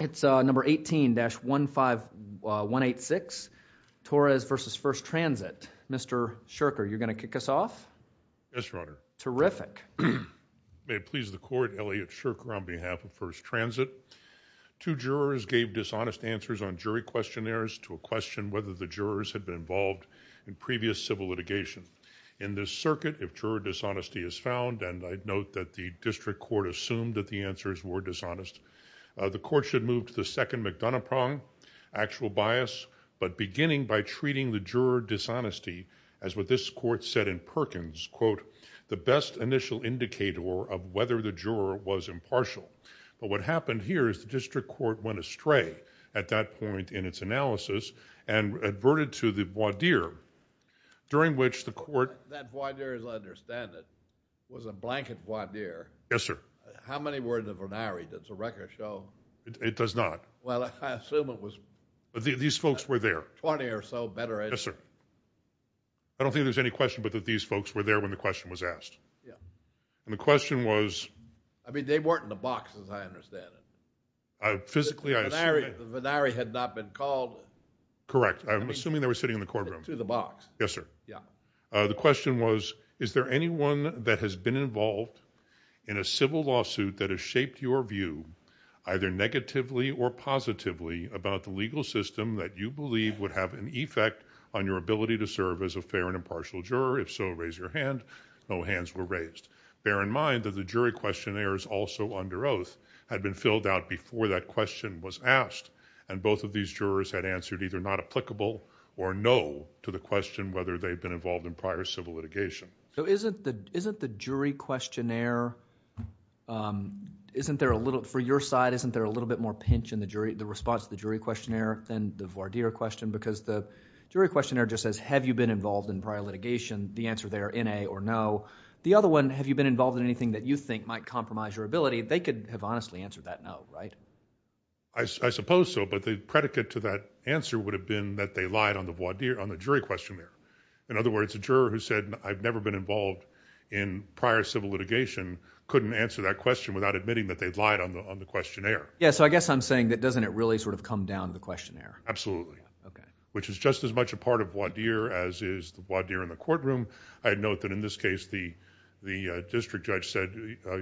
It's number 18-15186, Torres v. First Transit. Mr. Shurker, you're going to kick us off? Yes, Your Honor. Terrific. May it please the Court, Elliot Shurker on behalf of First Transit. Two jurors gave dishonest answers on jury questionnaires to a question whether the jurors had been involved in previous civil litigation. In this circuit, if juror dishonesty is found, and I'd note that the court had moved to the second McDonough prong, actual bias, but beginning by treating the juror dishonesty as what this court said in Perkins, quote, the best initial indicator of whether the juror was impartial. But what happened here is the district court went astray at that point in its analysis and adverted to the voir dire, during which the court— That voir dire, as I understand it, was a blanket voir dire. Yes, sir. How many words of an hour does the record show? It does not. Well, I assume it was— These folks were there. Twenty or so, better. Yes, sir. I don't think there's any question but that these folks were there when the question was asked. Yeah. And the question was— I mean, they weren't in the box, as I understand it. Physically, I assume— The venari had not been called— Correct. I'm assuming they were sitting in the courtroom. To the box. Yes, sir. Yeah. The question was, is there anyone that has been involved in a civil lawsuit that has either negatively or positively about the legal system that you believe would have an effect on your ability to serve as a fair and impartial juror? If so, raise your hand. No hands were raised. Bear in mind that the jury questionnaires also under oath had been filled out before that question was asked, and both of these jurors had answered either not applicable or no to the question whether they'd been involved in prior civil litigation. So isn't the jury questionnaire—isn't there a little—for your side, isn't there a little bit more pinch in the response to the jury questionnaire than the voir dire question? Because the jury questionnaire just says, have you been involved in prior litigation? The answer there, N-A or no. The other one, have you been involved in anything that you think might compromise your ability? They could have honestly answered that no, right? I suppose so. But the predicate to that answer would have been that they lied on the voir dire, on the jury questionnaire. In other words, a juror who said, I've never been involved in prior civil litigation, couldn't answer that question without admitting that they'd lied on the questionnaire. Yeah, so I guess I'm saying that doesn't it really sort of come down to the questionnaire? Absolutely. Which is just as much a part of voir dire as is the voir dire in the courtroom. I'd note that in this case, the district judge said,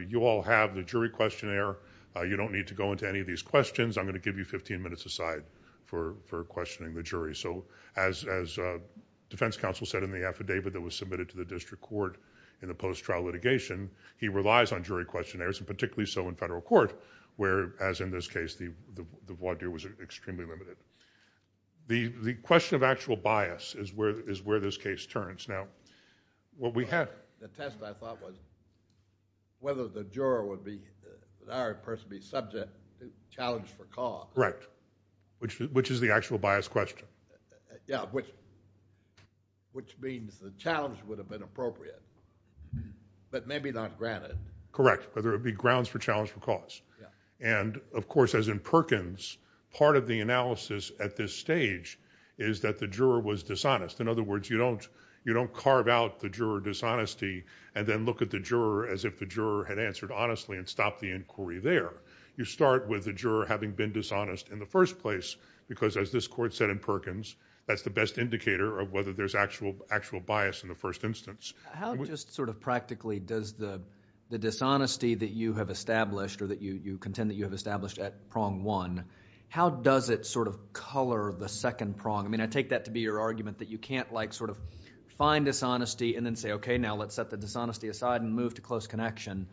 you all have the jury questionnaire. You don't need to go into any of these questions. I'm going to give you 15 minutes aside for questioning the jury. So as defense counsel said in the affidavit that was submitted to the district court in the post-trial litigation, he relies on jury questionnaires, and particularly so in federal court where, as in this case, the voir dire was extremely limited. The question of actual bias is where this case turns. Now, what we have- The test, I thought, was whether the juror would be, or the person would be subject, challenged for cause. Right. Which is the actual bias question. Yeah, which means the challenge would have been appropriate, but maybe not granted. Correct. Whether it be grounds for challenge for cause. And of course, as in Perkins, part of the analysis at this stage is that the juror was dishonest. In other words, you don't carve out the juror dishonesty and then look at the juror as if the juror had answered honestly and stopped the inquiry there. You start with the juror having been dishonest in the first place because, as this court said in Perkins, that's the best indicator of whether there's actual bias in the first instance. How just sort of practically does the dishonesty that you have established or that you contend that you have established at prong one, how does it sort of color the second prong? I mean, I take that to be your argument that you can't like sort of find dishonesty and then say, okay, now let's set the dishonesty aside and move to close connection. And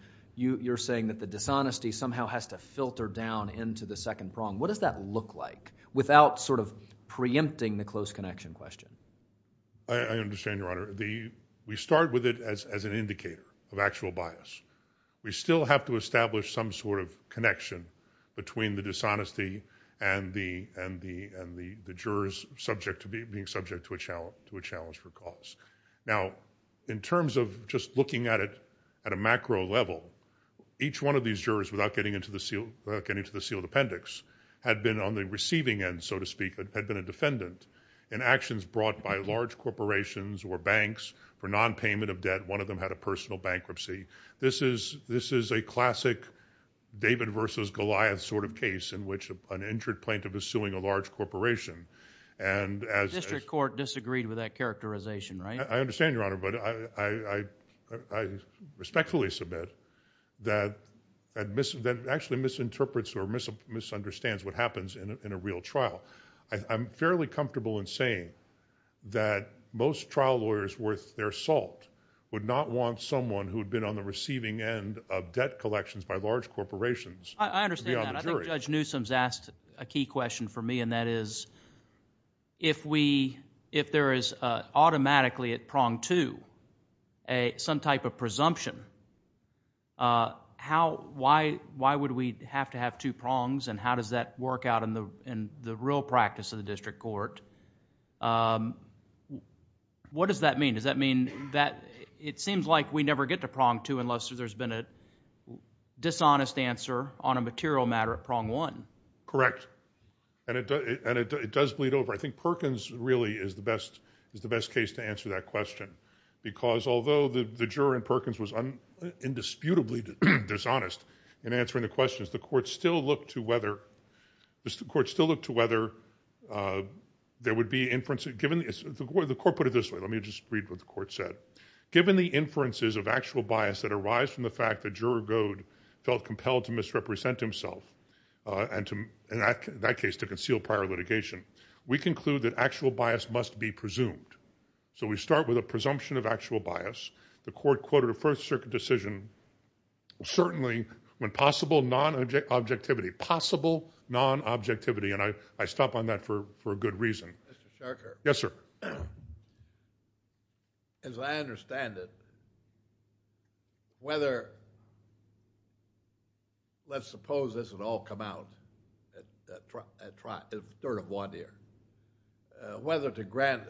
you're saying that the dishonesty somehow has to filter down into the second prong. What does that look like without sort of preempting the close connection question? I understand, Your Honor. We start with it as an indicator of actual bias. We still have to establish some sort of connection between the dishonesty and the jurors being subject to a challenge for cause. Now, in terms of just looking at it at a macro level, each one of these jurors without getting into the sealed appendix had been on the receiving end, so to speak, had been a defendant in actions brought by large corporations or banks for nonpayment of debt. One of them had a personal bankruptcy. This is a classic David versus Goliath sort of case in which an injured plaintiff is suing a large corporation. The district court disagreed with that characterization, right? I understand, Your Honor, but I respectfully submit that actually misinterprets or misunderstands what happens in a real trial. I'm fairly comfortable in saying that most trial lawyers worth their salt would not want someone who had been on the receiving end of debt collections by large corporations to be on the jury. I understand that. Judge Newsom's asked a key question for me, and that is, if there is automatically at prong two some type of presumption, why would we have to have two prongs, and how does that work out in the real practice of the district court? What does that mean? Does that mean that it seems like we never get to prong two unless there's been a dishonest answer on a material matter at prong one? Correct. And it does bleed over. I think Perkins really is the best case to answer that question, because although the juror in Perkins was indisputably dishonest in answering the questions, the court still looked to whether there would be inferences. The court put it this way. Let me just read what the court said. Given the inferences of actual bias that arise from the fact that Juror Goad felt compelled to misrepresent himself, and in that case, to conceal prior litigation, we conclude that actual bias must be presumed. So we start with a presumption of actual bias. The court quoted a First Circuit decision, certainly when possible non-objectivity, possible non-objectivity, and I stop on that for a good reason. Yes, sir. As I understand it, whether, let's suppose this would all come out at third of one year, whether to grant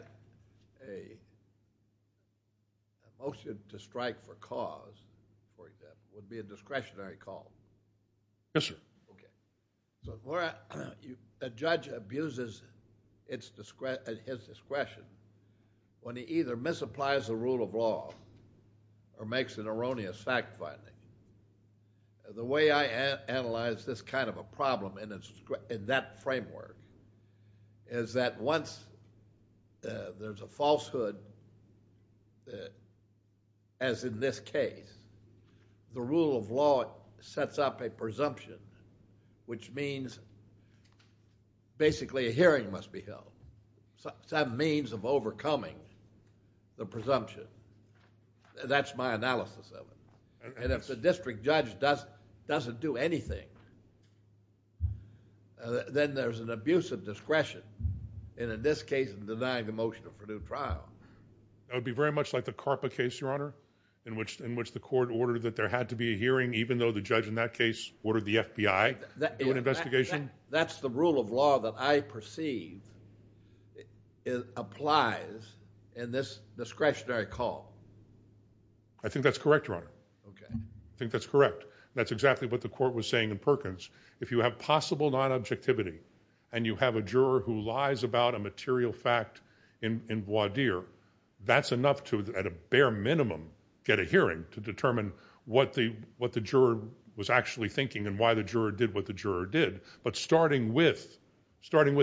a motion to strike for cause, for example, would be a discretionary call. Yes, sir. Okay. A judge abuses his discretion when he either misapplies the rule of law or makes an erroneous fact finding. The way I analyze this kind of a problem in that framework is that once there's a falsehood, as in this case, the rule of law sets up a presumption, which means basically a hearing must be held, some means of overcoming the presumption. That's my analysis of it, and if the district judge doesn't do anything, then there's an abuse of discretion, and in this case, denying the motion for due trial. That would be very much like the CARPA case, Your Honor, in which the court ordered that there had to be a hearing, even though the judge in that case ordered the FBI to do an investigation. That's the rule of law that I perceive applies in this discretionary call. I think that's correct, Your Honor. Okay. I think that's correct. That's exactly what the court was saying in Perkins. If you have possible non-objectivity, and you have a juror who lies about a material fact in voir dire, that's enough to, at a bare minimum, get a hearing to determine what the juror was actually thinking and why the juror did what the juror did. But starting with,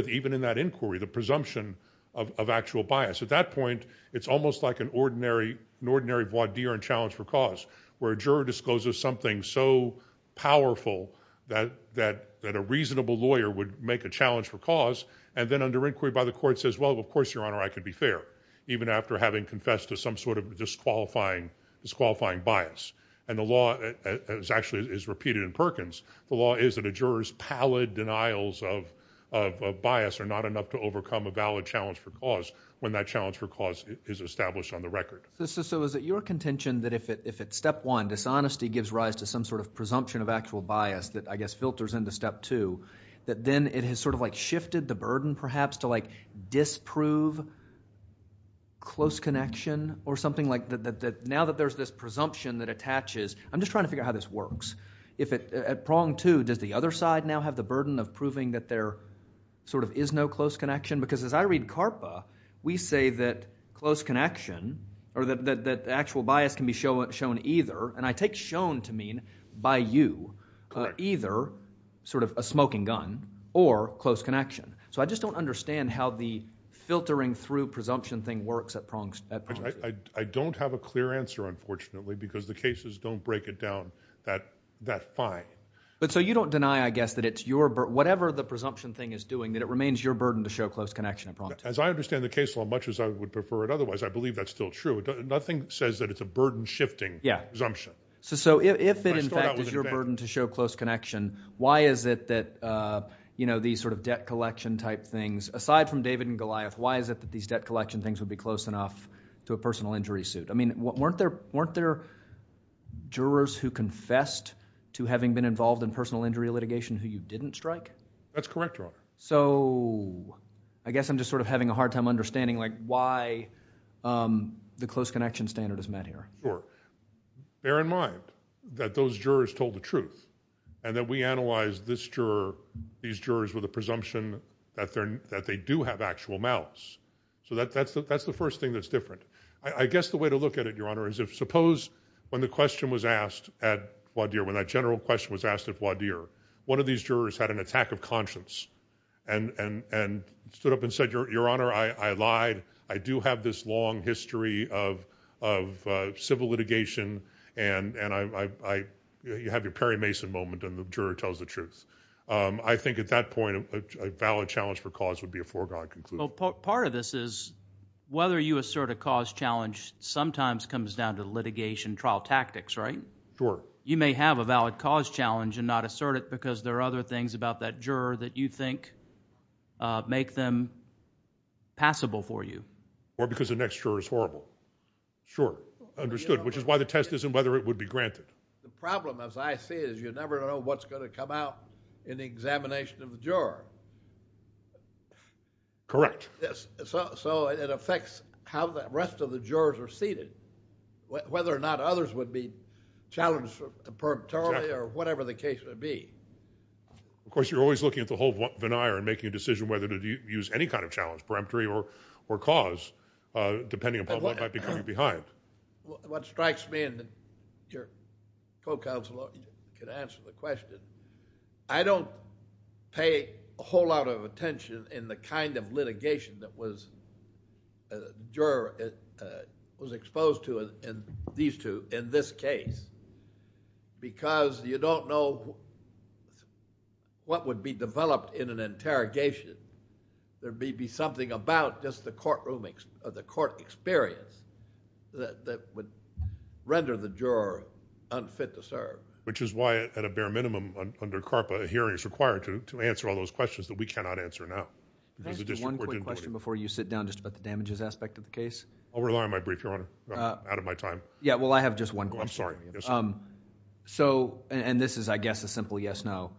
even in that inquiry, the presumption of actual bias, at that point, it's almost like an ordinary voir dire in challenge for cause, where a juror discloses something so powerful that a reasonable lawyer would make a challenge for cause, and then under inquiry by the court says, well, of course, Your Honor, I could be fair, even after having confessed to some sort of disqualifying bias. And the law, as actually is repeated in Perkins, the law is that a juror's pallid denials of bias are not enough to overcome a valid challenge for cause when that challenge for cause is established on the record. So is it your contention that if at step one, dishonesty gives rise to some sort of presumption of actual bias that, I guess, filters into step two, that then it has sort of like shifted the burden, perhaps, to like disprove close connection or something like that? Now that there's this presumption that attaches, I'm just trying to figure out how this works. If at prong two, does the other side now have the burden of proving that there sort of is no close connection? Because as I read CARPA, we say that close connection, or that the actual bias can be shown either, and I take shown to mean by you, either sort of a smoking gun or close connection. So I just don't understand how the filtering through presumption thing works at prong two. I don't have a clear answer, unfortunately, because the cases don't break it down that fine. But so you don't deny, I guess, that it's your, whatever the presumption thing is doing, that it remains your burden to show close connection at prong two? As I understand the case as much as I would prefer it otherwise, I believe that's still true. Nothing says that it's a burden shifting presumption. So if it, in fact, is your burden to show close connection, why is it that these sort of debt collection type things, aside from David and Goliath, why is it that these debt collection things would be close enough to a personal injury suit? I mean, weren't there jurors who confessed to having been involved in personal injury litigation who you didn't strike? That's correct, Your Honor. So I guess I'm just sort of having a hard time understanding, like, why the close connection standard is met here. Sure. Bear in mind that those jurors told the truth, and that we analyzed this juror, these jurors with a presumption that they do have actual mouths. So that's the first thing that's different. I guess the way to look at it, Your Honor, is if suppose when the question was asked at Wadhir, when that general question was asked at Wadhir, one of these jurors had an attack of conscience, and stood up and said, Your Honor, I lied, I do have this long history of civil litigation, and you have your Perry Mason moment, and the juror tells the truth. I think at that point, a valid challenge for cause would be a foregone conclusion. Part of this is, whether you assert a cause challenge sometimes comes down to litigation trial tactics, right? Sure. You may have a valid cause challenge and not assert it because there are other things about that juror that you think make them passable for you. Or because the next juror is horrible. Sure. Understood. Which is why the test isn't whether it would be granted. The problem, as I see it, is you never know what's going to come out in the examination of the juror. Correct. Yes. So, it affects how the rest of the jurors are seated, whether or not others would be challenged perpetually or whatever the case would be. Of course, you're always looking at the whole veneer and making a decision whether to use any kind of challenge, peremptory or cause, depending upon what might be coming behind. What strikes me, and your co-counsel can answer the question, I don't pay a whole lot of attention in the kind of litigation that was exposed to in these two, in this case, because you don't know what would be developed in an interrogation. There may be something about just the courtroom, or the court experience that would render the juror unfit to serve. Which is why, at a bare minimum under CARPA, a hearing is required to answer all those questions that we cannot answer now because the district court didn't do it. Can I ask you one quick question before you sit down just about the damages aspect of the case? I'll rely on my brief, Your Honor. I'm out of my time. Yeah. Well, I have just one question. I'm sorry. Yes, Your Honor. So, and this is, I guess, a simple yes-no.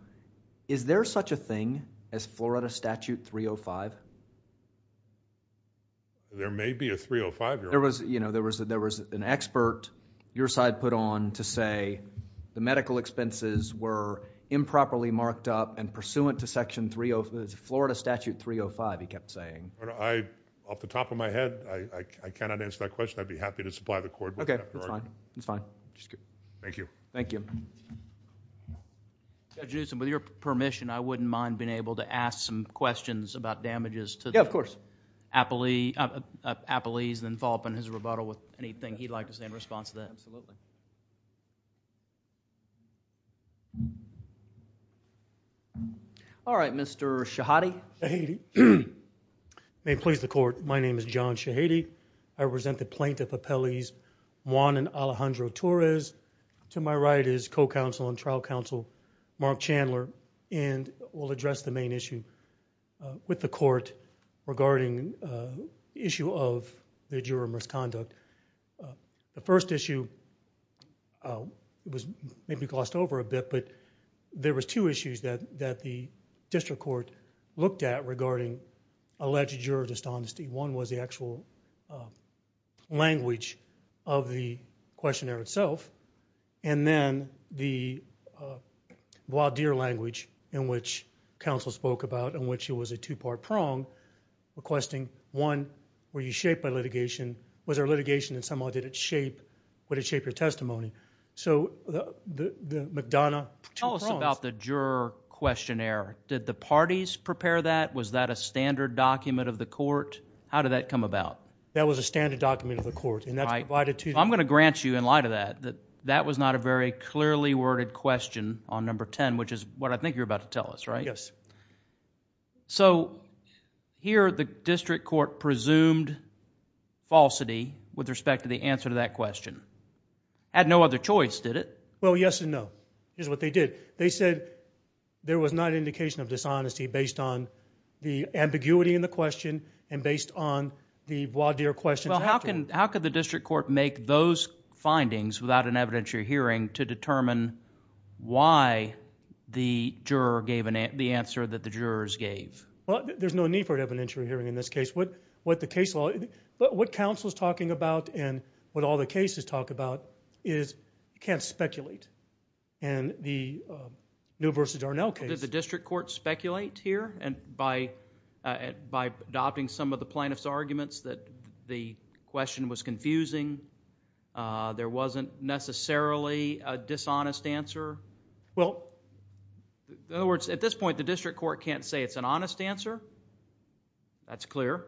Is there such a thing as Florida Statute 305? There may be a 305, Your Honor. There was an expert your side put on to say the medical expenses were improperly marked up and pursuant to Florida Statute 305, he kept saying. Off the top of my head, I cannot answer that question. I'd be happy to supply the court with that. Okay. It's fine. It's fine. Just kidding. Thank you. Thank you. Judge Newsom, with your permission, I wouldn't mind being able to ask some questions about damages to the appellees and then follow up on his rebuttal with anything he'd like to say in response to that. Absolutely. All right. Mr. Shahady. Shahady. May it please the court. My name is John Shahady. I represent the plaintiff appellees Juan and Alejandro Torres. To my right is co-counsel and trial counsel, Mark Chandler, and we'll address the main issue with the court regarding the issue of the juror misconduct. The first issue was maybe glossed over a bit, but there was two issues that the district court looked at regarding alleged juror dishonesty. One was the actual language of the questionnaire itself, and then the voir dire language in which counsel spoke about in which it was a two-part prong requesting, one, were you shaped by litigation? Was there litigation in some way? Did it shape your testimony? So the McDonough two prongs... Tell us about the juror questionnaire. Did the parties prepare that? Was that a standard document of the court? How did that come about? That was a standard document of the court, and that's provided to... I'm going to grant you in light of that, that that was not a very clearly worded question on number 10, which is what I think you're about to tell us, right? Yes. So here the district court presumed falsity with respect to the answer to that question. Had no other choice, did it? Well, yes and no is what they did. They said there was not an indication of dishonesty based on the ambiguity in the question and based on the voir dire question... Well, how could the district court make those findings without an evidentiary hearing to determine why the juror gave the answer that the jurors gave? Well, there's no need for an evidentiary hearing in this case. What counsel is talking about and what all the cases talk about is you can't speculate, and the Newell v. Darnell case... Did the district court speculate here by adopting some of the plaintiff's arguments that the question was confusing, there wasn't necessarily a dishonest answer? Well... In other words, at this point, the district court can't say it's an honest answer. That's clear.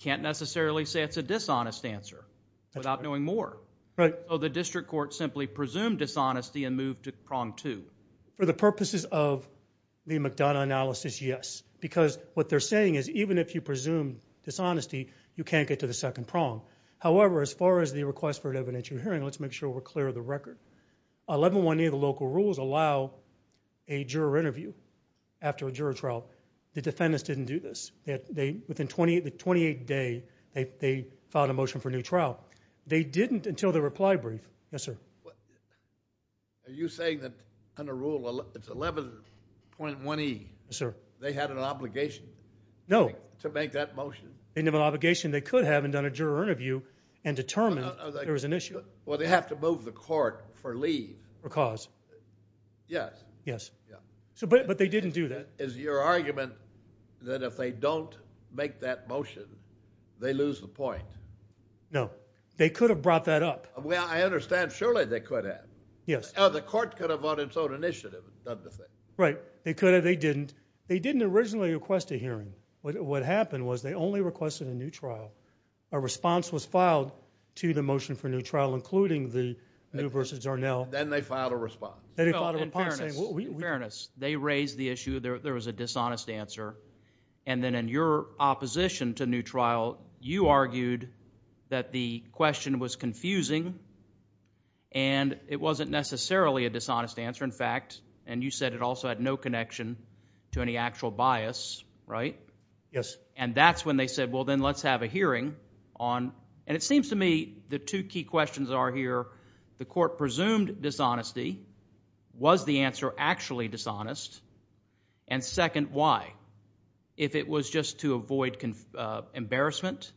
Can't necessarily say it's a dishonest answer without knowing more. Right. So the district court simply presumed dishonesty and moved to prong two? For the purposes of the McDonough analysis, yes. Because what they're saying is even if you presume dishonesty, you can't get to the second prong. However, as far as the request for an evidentiary hearing, let's make sure we're clear of the record. 1118 of the local rules allow a juror interview after a juror trial. The defendants didn't do this. Within the 28th day, they filed a motion for a new trial. They didn't until the reply brief. Yes, sir? Are you saying that under Rule 11.1e, they had an obligation to make that motion? No. They didn't have an obligation. They could have, and done a juror interview and determined there was an issue. Well, they have to move the court for leave. For cause. Yes. Yes. But they didn't do that. Is your argument that if they don't make that motion, they lose the point? No. They could have brought that up. Well, I understand. Surely, they could have. Yes. The court could have, on its own initiative, done the thing. Right. They could have. They didn't. They didn't originally request a hearing. What happened was they only requested a new trial. A response was filed to the motion for a new trial, including the new versus Darnell. Then they filed a response. They filed a reply saying, well, we- In fairness, they raised the issue. There was a dishonest answer. Then in your opposition to a new trial, you argued that the question was confusing. It wasn't necessarily a dishonest answer, in fact. You said it also had no connection to any actual bias, right? Yes. That's when they said, well, then let's have a hearing. It seems to me the two key questions are here. The court presumed dishonesty. Was the answer actually dishonest? Second, why? If it was just to avoid embarrassment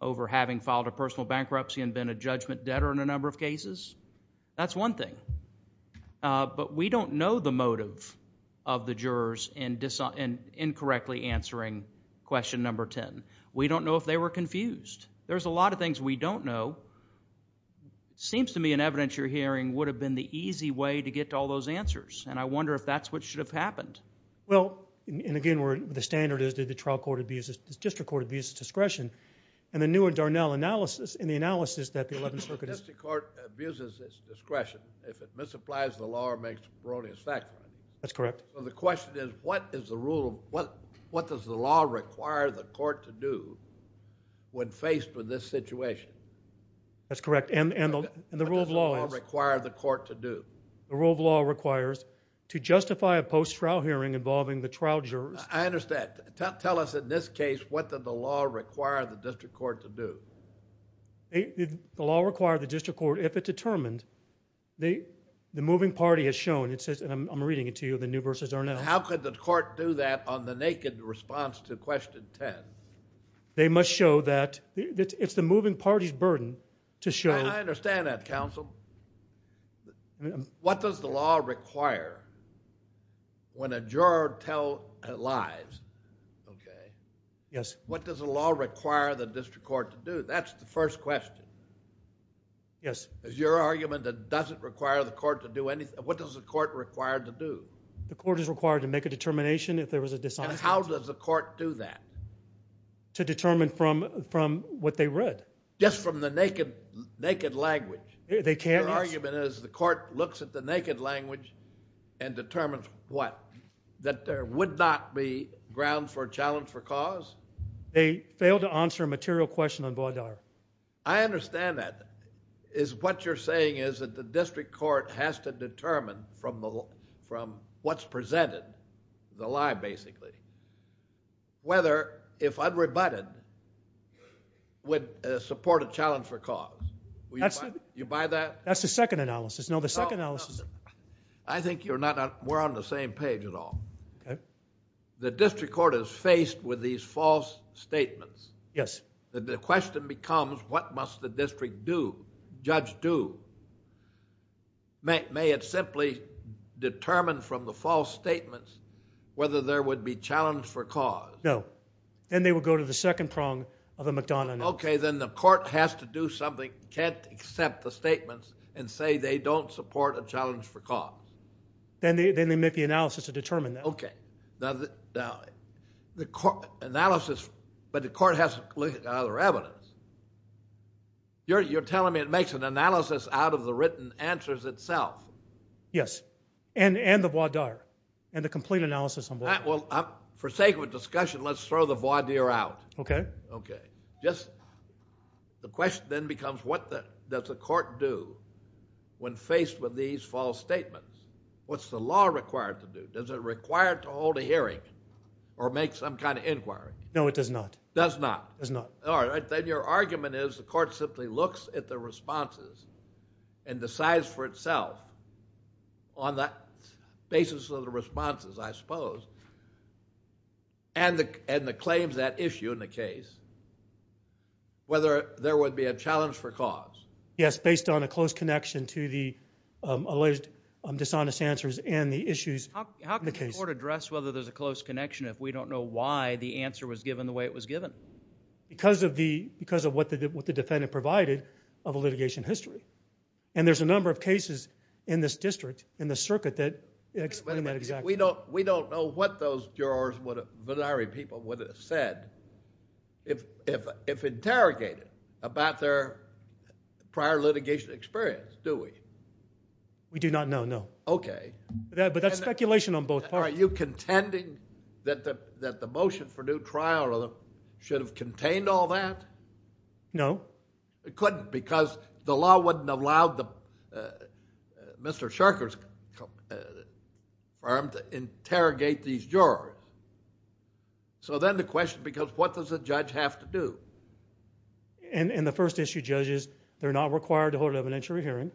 over having filed a personal bankruptcy and been a judgment debtor in a number of cases, that's one thing. We don't know the motive of the jurors in incorrectly answering question number 10. We don't know if they were confused. There's a lot of things we don't know. Seems to me an evidentiary hearing would have been the easy way to get to all those answers. I wonder if that's what should have happened. Well, and again, the standard is that the trial court abuses, the district court abuses discretion. The new and Darnell analysis, in the analysis that the 11th Circuit is- The district court abuses its discretion if it misapplies the law or makes erroneous facts, right? That's correct. The question is, what does the law require the court to do when faced with this situation? That's correct. The rule of law is- What does the law require the court to do? The rule of law requires to justify a post-trial hearing involving the trial jurors. I understand. Tell us in this case, what did the law require the district court to do? The law required the district court, if it determined, the moving party has shown, it says, and I'm reading it to you, the new versus Darnell. How could the court do that on the naked response to question 10? They must show that it's the moving party's burden to show- I understand that, counsel. What does the law require when a juror tells lies, what does the law require the district court to do? That's the first question. Yes. Is your argument that it doesn't require the court to do anything? What does the court require to do? The court is required to make a determination if there was a dishonesty. How does the court do that? To determine from what they read. Just from the naked language? Their argument is the court looks at the naked language and determines what? That there would not be ground for a challenge for cause? They failed to answer a material question on Baudelaire. I understand that. Is what you're saying is that the district court has to determine from what's presented, the lie basically, whether if unrebutted, would support a challenge for cause? You buy that? That's the second analysis. No, the second analysis... I think we're on the same page at all. The district court is faced with these false statements. Yes. The question becomes what must the district judge do? May it simply determine from the false statements whether there would be challenge for cause? No. Then they would go to the second prong of a McDonough analysis. Then the court has to do something, can't accept the statements and say they don't support a challenge for cause. Then they make the analysis to determine that. Okay. Now, the analysis... but the court has to look at the other evidence. You're telling me it makes an analysis out of the written answers itself? Yes, and the voir dire, and the complete analysis on Baudelaire. For sake of discussion, let's throw the voir dire out. Okay. Okay. Just... the question then becomes what does the court do when faced with these false statements? What's the law required to do? Does it require to hold a hearing or make some kind of inquiry? No, it does not. Does not? Does not. All right. Then your argument is the court simply looks at the responses and decides for itself on that basis of the responses, I suppose, and the claims that issue in the case, whether there would be a challenge for cause? Yes, based on a close connection to the alleged dishonest answers and the issues in the case. How can the court address whether there's a close connection if we don't know why the answer was given the way it was given? Because of what the defendant provided of a litigation history. And there's a number of cases in this district, in the circuit, that explain that exactly. We don't know what those jurors, Baudelaire people, would have said if interrogated about their prior litigation experience, do we? We do not know, no. Okay. But that's speculation on both parts. Are you contending that the motion for new trial should have contained all that? No. It couldn't, because the law wouldn't have allowed Mr. Sherker's firm to interrogate these jurors. So then the question becomes, what does a judge have to do? And the first issue, judges, they're not required to hold an evidentiary hearing.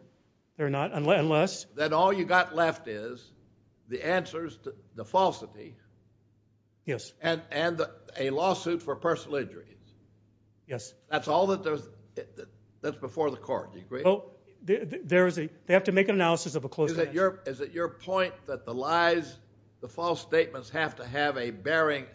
They're not, unless... Then all you've got left is the answers to the falsity and a lawsuit for personal injuries. Yes. That's all that's before the court, do you agree? There is a... They have to make an analysis of a closed case. Is it your point that the lies, the false statements, have to have a bearing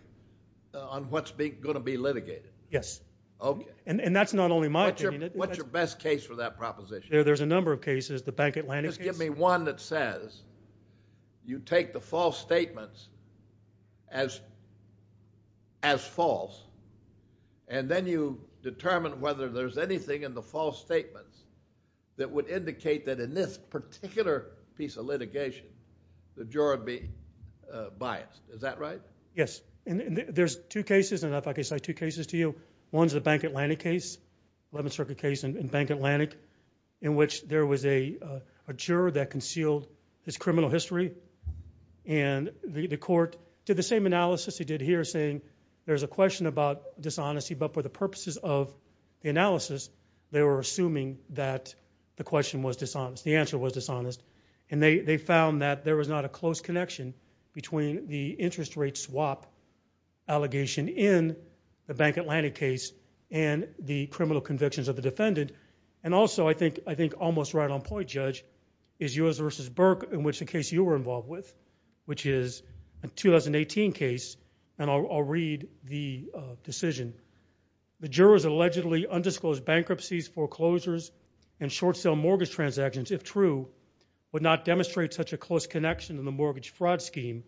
on what's going to be litigated? Yes. Okay. And that's not only my opinion. What's your best case for that proposition? There's a number of cases. The Bank Atlantic case. Give me one that says you take the false statements as false, and then you determine whether there's anything in the false statements that would indicate that in this particular piece of litigation, the juror would be biased. Is that right? Yes. And there's two cases, and if I could cite two cases to you, one's the Bank Atlantic case, 11th Circuit case in Bank Atlantic, in which there was a juror that concealed his criminal history, and the court did the same analysis it did here, saying there's a question about dishonesty, but for the purposes of the analysis, they were assuming that the question was dishonest, the answer was dishonest, and they found that there was not a close connection between the interest rate swap allegation in the Bank Atlantic case and the criminal convictions of the defendant. And also, I think almost right on point, Judge, is yours versus Burke, in which the case you were involved with, which is a 2018 case, and I'll read the decision. The jurors allegedly undisclosed bankruptcies, foreclosures, and short sale mortgage transactions, if true, would not demonstrate such a close connection in the mortgage fraud scheme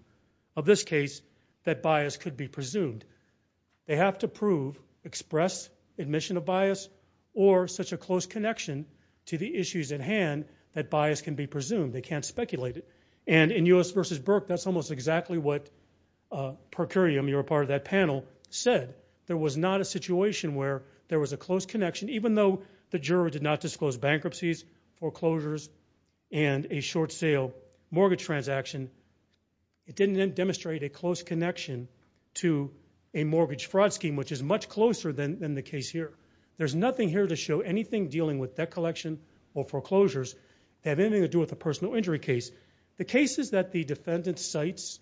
of this case that bias could be presumed. They have to prove, express admission of bias, or such a close connection to the issues at hand that bias can be presumed. They can't speculate it. And in yours versus Burke, that's almost exactly what Procurium, you were a part of that panel, said. There was not a situation where there was a close connection, even though the juror did not disclose bankruptcies, foreclosures, and a short sale mortgage transaction, it didn't demonstrate a close connection to a mortgage fraud scheme, which is much closer than the case here. There's nothing here to show anything dealing with debt collection or foreclosures that have anything to do with a personal injury case. The case is that the defendant's sites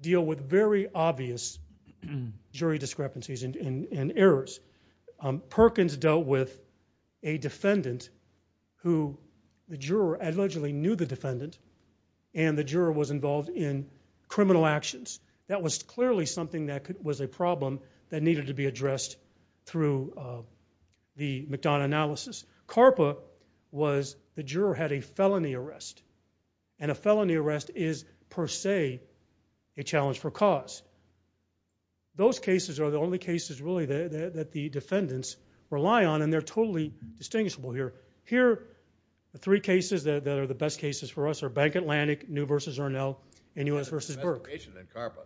deal with very obvious jury discrepancies and errors. Perkins dealt with a defendant who the juror allegedly knew the defendant, and the juror was involved in criminal actions. That was clearly something that was a problem that needed to be addressed through the McDonough analysis. Karpa was, the juror had a felony arrest. And a felony arrest is, per se, a challenge for cause. Those cases are the only cases, really, that the defendants rely on, and they're totally distinguishable here. Here, the three cases that are the best cases for us are Bank Atlantic, New v. Arnell, and U.S. v. Burke. There was an investigation in Karpa.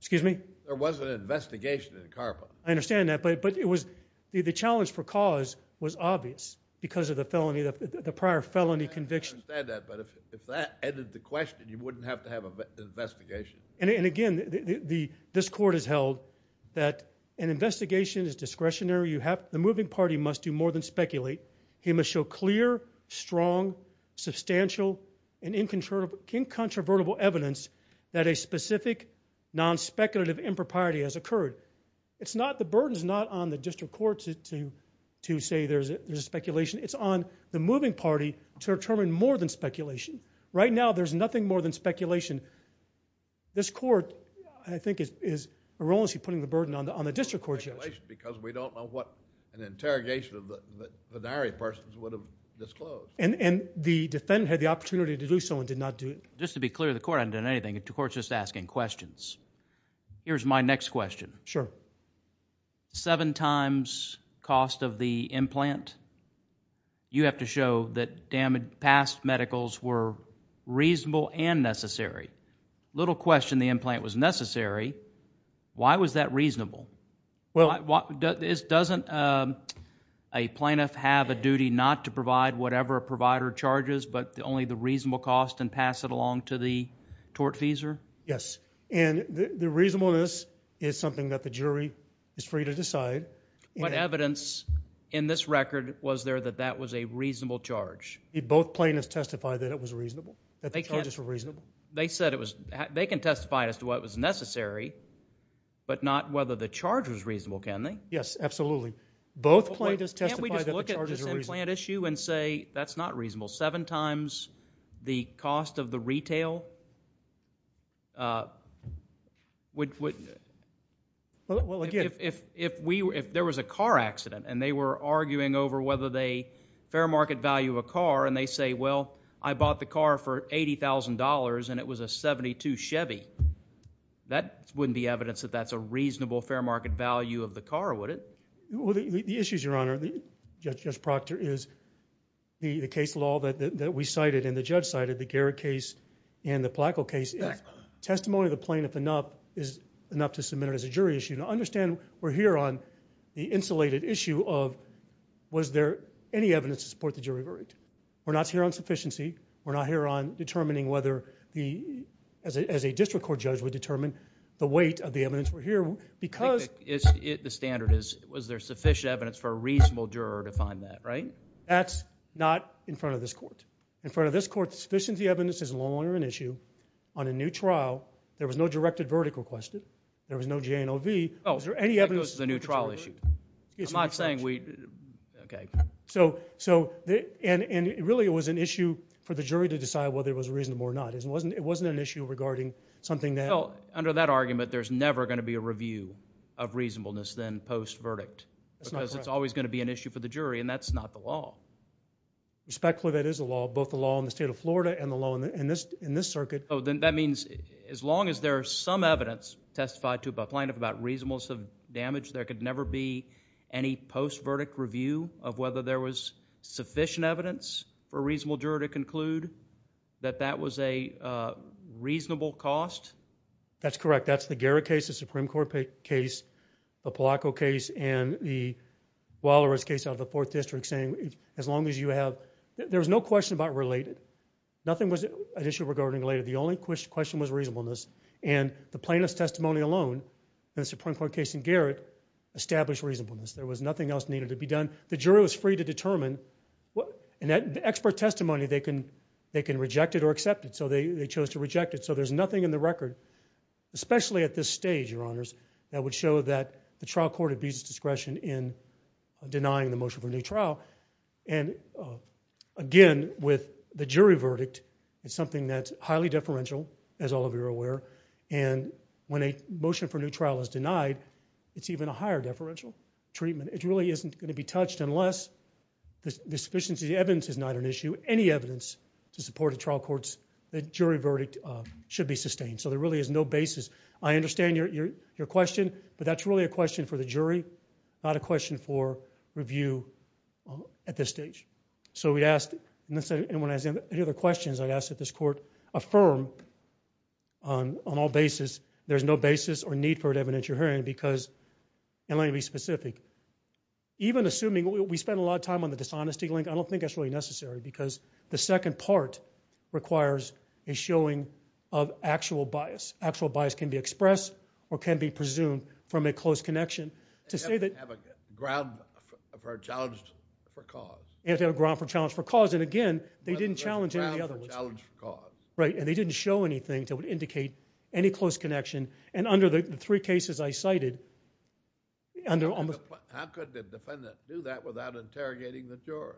Excuse me? There was an investigation in Karpa. I understand that, but it was, the challenge for cause was obvious because of the felony, the prior felony conviction. I understand that, but if that ended the question, you wouldn't have to have an investigation. And again, this court has held that an investigation is discretionary. The moving party must do more than speculate. He must show clear, strong, substantial, and incontrovertible evidence that a specific non-speculative impropriety has occurred. It's not, the burden's not on the district court to say there's a speculation. It's on the moving party to determine more than speculation. Right now, there's nothing more than speculation. This court, I think, is erroneously putting the burden on the district court, Judge. Because we don't know what an interrogation of the diary persons would have disclosed. And the defendant had the opportunity to do so and did not do it. Just to be clear, the court hasn't done anything. The court's just asking questions. Here's my next question. Sure. Seven times cost of the implant. You have to show that past medicals were reasonable and necessary. Little question the implant was necessary. Why was that reasonable? Doesn't a plaintiff have a duty not to provide whatever provider charges, but only the reasonable cost and pass it along to the tortfeasor? Yes. And the reasonableness is something that the jury is free to decide. What evidence in this record was there that that was a reasonable charge? Both plaintiffs testified that it was reasonable. That the charges were reasonable. They said it was, they can testify as to what was necessary, but not whether the charge was reasonable, can they? Yes, absolutely. Both plaintiffs testified that the charges were reasonable. Can't we just look at this implant issue and say that's not reasonable? Seven times the cost of the retail? If there was a car accident and they were arguing over whether they fair market value a car and they say, well, I bought the car for $80,000 and it was a 72 Chevy, that wouldn't be evidence that that's a reasonable fair market value of the car, would it? The issue, Your Honor, Judge Proctor, is the case law that we cited and the judge cited, the Garrett case and the Placo case, if testimony of the plaintiff is enough to submit it as a jury issue, to understand we're here on the insulated issue of was there any evidence to support the jury verdict? We're not here on sufficiency. We're not here on determining whether the, as a district court judge would determine the weight of the evidence. The standard is was there sufficient evidence for a reasonable juror to find that, right? That's not in front of this court. In front of this court, the sufficiency evidence is no longer an issue. On a new trial, there was no directed verdict requested. There was no J&OV. Is there any evidence? It was a new trial issue. I'm not saying we, okay. So, and really it was an issue for the jury to decide whether it was reasonable or not. It wasn't an issue regarding something that. Well, under that argument, there's never going to be a review of reasonableness then post-verdict. That's not correct. Because it's always going to be an issue for the jury, and that's not the law. Respectfully, that is the law, both the law in the state of Florida and the law in this circuit. Oh, then that means as long as there is some evidence testified to by plaintiff about reasonableness of damage, there could never be any post-verdict review of whether there was sufficient evidence for a reasonable juror to conclude that that was a reasonable cost? That's correct. That's the Garrett case, the Supreme Court case, the Polacco case, and the Walrus case out of the Fourth District saying as long as you have, there was no question about related. Nothing was an issue regarding related. The only question was reasonableness, and the plaintiff's testimony alone in the Supreme Court case in Garrett established reasonableness. There was nothing else needed to be done. The jury was free to determine, and that expert testimony, they can reject it or accept it, so they chose to reject it. So there's nothing in the record, especially at this stage, Your Honors, that would show that the trial court abused discretion in denying the motion for a new trial, and again, with the jury verdict, it's something that's highly deferential, as all of you are aware, and when a motion for a new trial is denied, it's even a higher deferential treatment. It really isn't going to be touched unless the sufficiency of the evidence is not an issue. Any evidence to support a trial court's jury verdict should be sustained, so there really is no basis. I understand your question, but that's really a question for the jury, not a question for review at this stage. So we asked, unless anyone has any other questions, I'd ask that this Court affirm on all basis there's no basis or need for an evidence you're hearing because, and let me be specific, even assuming, we spent a lot of time on the dishonesty link, I don't think that's really necessary because the second part requires a showing of actual bias. Actual bias can be expressed or can be presumed from a close connection to say that- They have to have a ground for a challenge for cause. They have to have a ground for a challenge for cause, and again, they didn't challenge any of the other ones. But a ground for a challenge for cause. Right, and they didn't show anything that would indicate any close connection, and under the three cases I cited... How could the defendant do that without interrogating the jurors?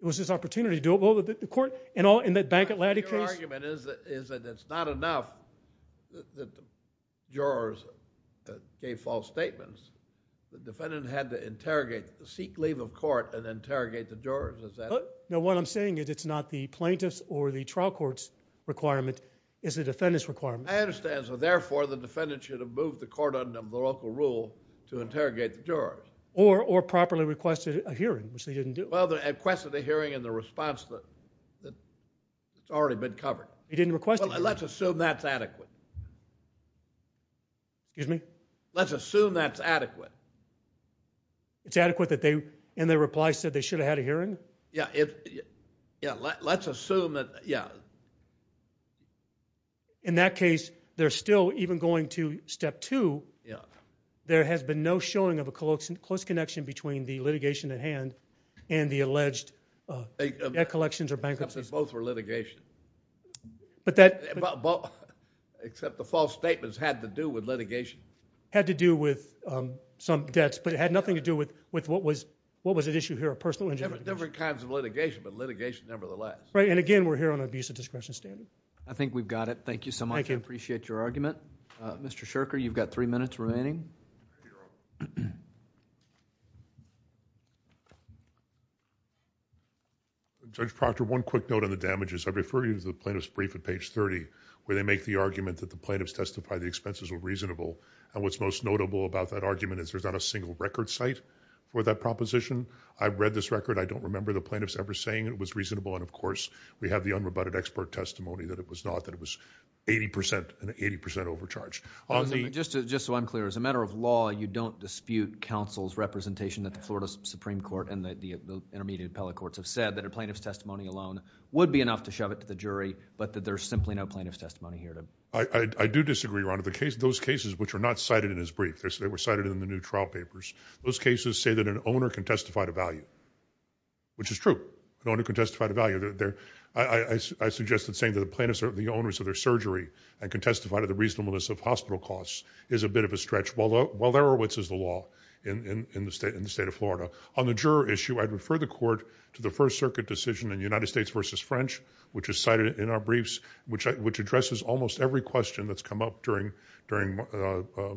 It was his opportunity to do it. Well, the court, in the Bank of Atlantic case... Your argument is that it's not enough that the jurors gave false statements. The defendant had to interrogate, seek leave of court and interrogate the jurors. Is that... No, what I'm saying is it's not the plaintiff's or the trial court's requirement, it's the defendant's requirement. I understand. So therefore, the defendant should have moved the court under the local rule to interrogate the jurors. Or, or properly requested a hearing, which they didn't do. Well, they requested a hearing in the response that's already been covered. They didn't request it. Well, let's assume that's adequate. Excuse me? Let's assume that's adequate. It's adequate that they, in their reply, said they should have had a hearing? Yeah. Yeah. Let's assume that... Yeah. In that case, they're still even going to step two. There has been no showing of a close connection between the litigation at hand and the alleged debt collections or bankruptcies. Except that both were litigation. But that... Except the false statements had to do with litigation. Had to do with some debts, but it had nothing to do with what was at issue here, a personal injury. Different kinds of litigation, but litigation, nevertheless. Right. And again, we're here on an abuse of discretion standard. I think we've got it. Thank you so much. Thank you. I appreciate your argument. Mr. Shurker, you've got three minutes remaining. Judge Proctor, one quick note on the damages. I refer you to the plaintiff's brief at page thirty, where they make the argument that the plaintiff's testified the expenses were reasonable, and what's most notable about that argument is there's not a single record cite for that proposition. I've read this record. I don't remember the plaintiff's ever saying it was reasonable, and of course, we have the unrebutted expert testimony that it was not, that it was eighty percent, an eighty percent overcharge. On the... Just so I'm clear, as a matter of law, you don't dispute counsel's representation that the Florida Supreme Court and the intermediate appellate courts have said, that a plaintiff's testimony alone would be enough to shove it to the jury, but that there's simply no plaintiff's testimony here to... I do disagree, Ron. Those cases, which are not cited in his brief, they were cited in the new trial papers. Those cases say that an owner can testify to value, which is true, an owner can testify to value. I suggested saying that the plaintiffs are the owners of their surgery, and can testify to the reasonableness of hospital costs is a bit of a stretch, while there are... which is the law in the state of Florida. On the juror issue, I'd refer the court to the First Circuit decision in United States versus French, which is cited in our briefs, which addresses almost every question that's come up during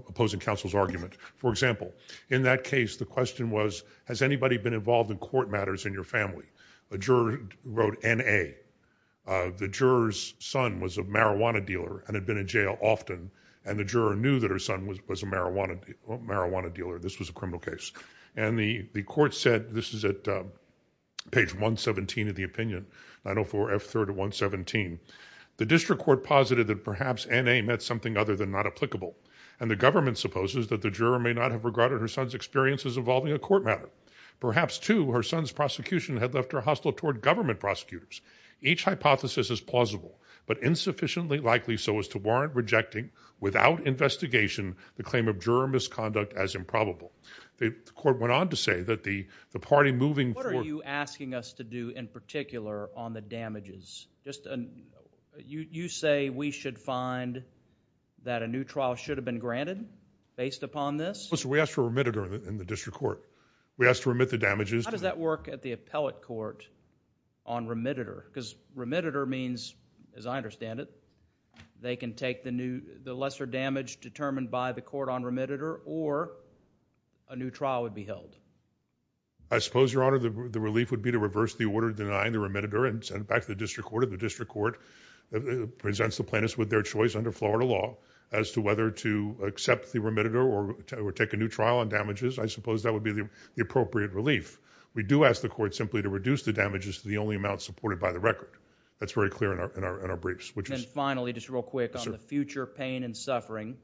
opposing counsel's argument. For example, in that case, the question was, has anybody been involved in court matters in your family? A juror wrote N.A. The juror's son was a marijuana dealer, and had been in jail often, and the juror knew that her son was a marijuana dealer. This was a criminal case. And the court said, this is at page 117 of the opinion, 904 F.3rd of 117. The district court posited that perhaps N.A. meant something other than not applicable, and the government supposes that the juror may not have regarded her son's experiences involving a court matter. Perhaps too, her son's prosecution had left her hostile toward government prosecutors. Each hypothesis is plausible, but insufficiently likely so as to warrant rejecting, without investigation, the claim of juror misconduct as improbable. The court went on to say that the party moving forward... What are you asking us to do in particular on the damages? Just, you say we should find that a new trial should have been granted, based upon this? We asked for remitted in the district court. We asked to remit the damages. How does that work at the appellate court on remitted? Because remitted means, as I understand it, they can take the lesser damage determined by the court on remitted, or a new trial would be held. I suppose, Your Honor, the relief would be to reverse the order denying the remitted remitter, and send it back to the district court. The district court presents the plaintiffs with their choice under Florida law as to whether to accept the remitted, or take a new trial on damages. I suppose that would be the appropriate relief. We do ask the court simply to reduce the damages to the only amount supported by the record. That's very clear in our briefs, which is... And finally, just real quick, on the future pain and suffering,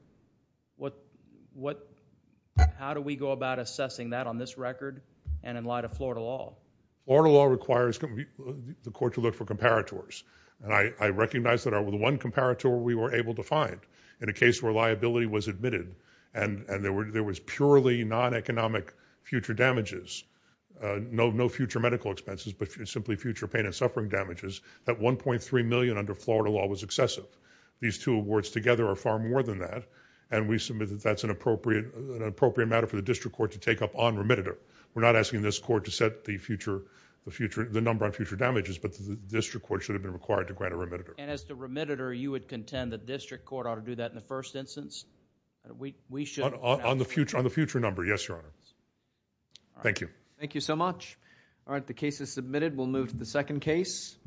how do we go about assessing that on this record, and in light of Florida law? Florida law requires the court to look for comparators, and I recognize that the one comparator we were able to find, in a case where liability was admitted, and there was purely non-economic future damages, no future medical expenses, but simply future pain and suffering damages, that $1.3 million under Florida law was excessive. These two awards together are far more than that, and we submit that that's an appropriate matter for the district court to take up on remitted. We're not asking this court to set the number on future damages, but the district court should have been required to grant a remitted. And as to remitted, or you would contend the district court ought to do that in the first instance? On the future number, yes, Your Honor. Thank you. Thank you so much. All right, the case is submitted. We'll move to the second case.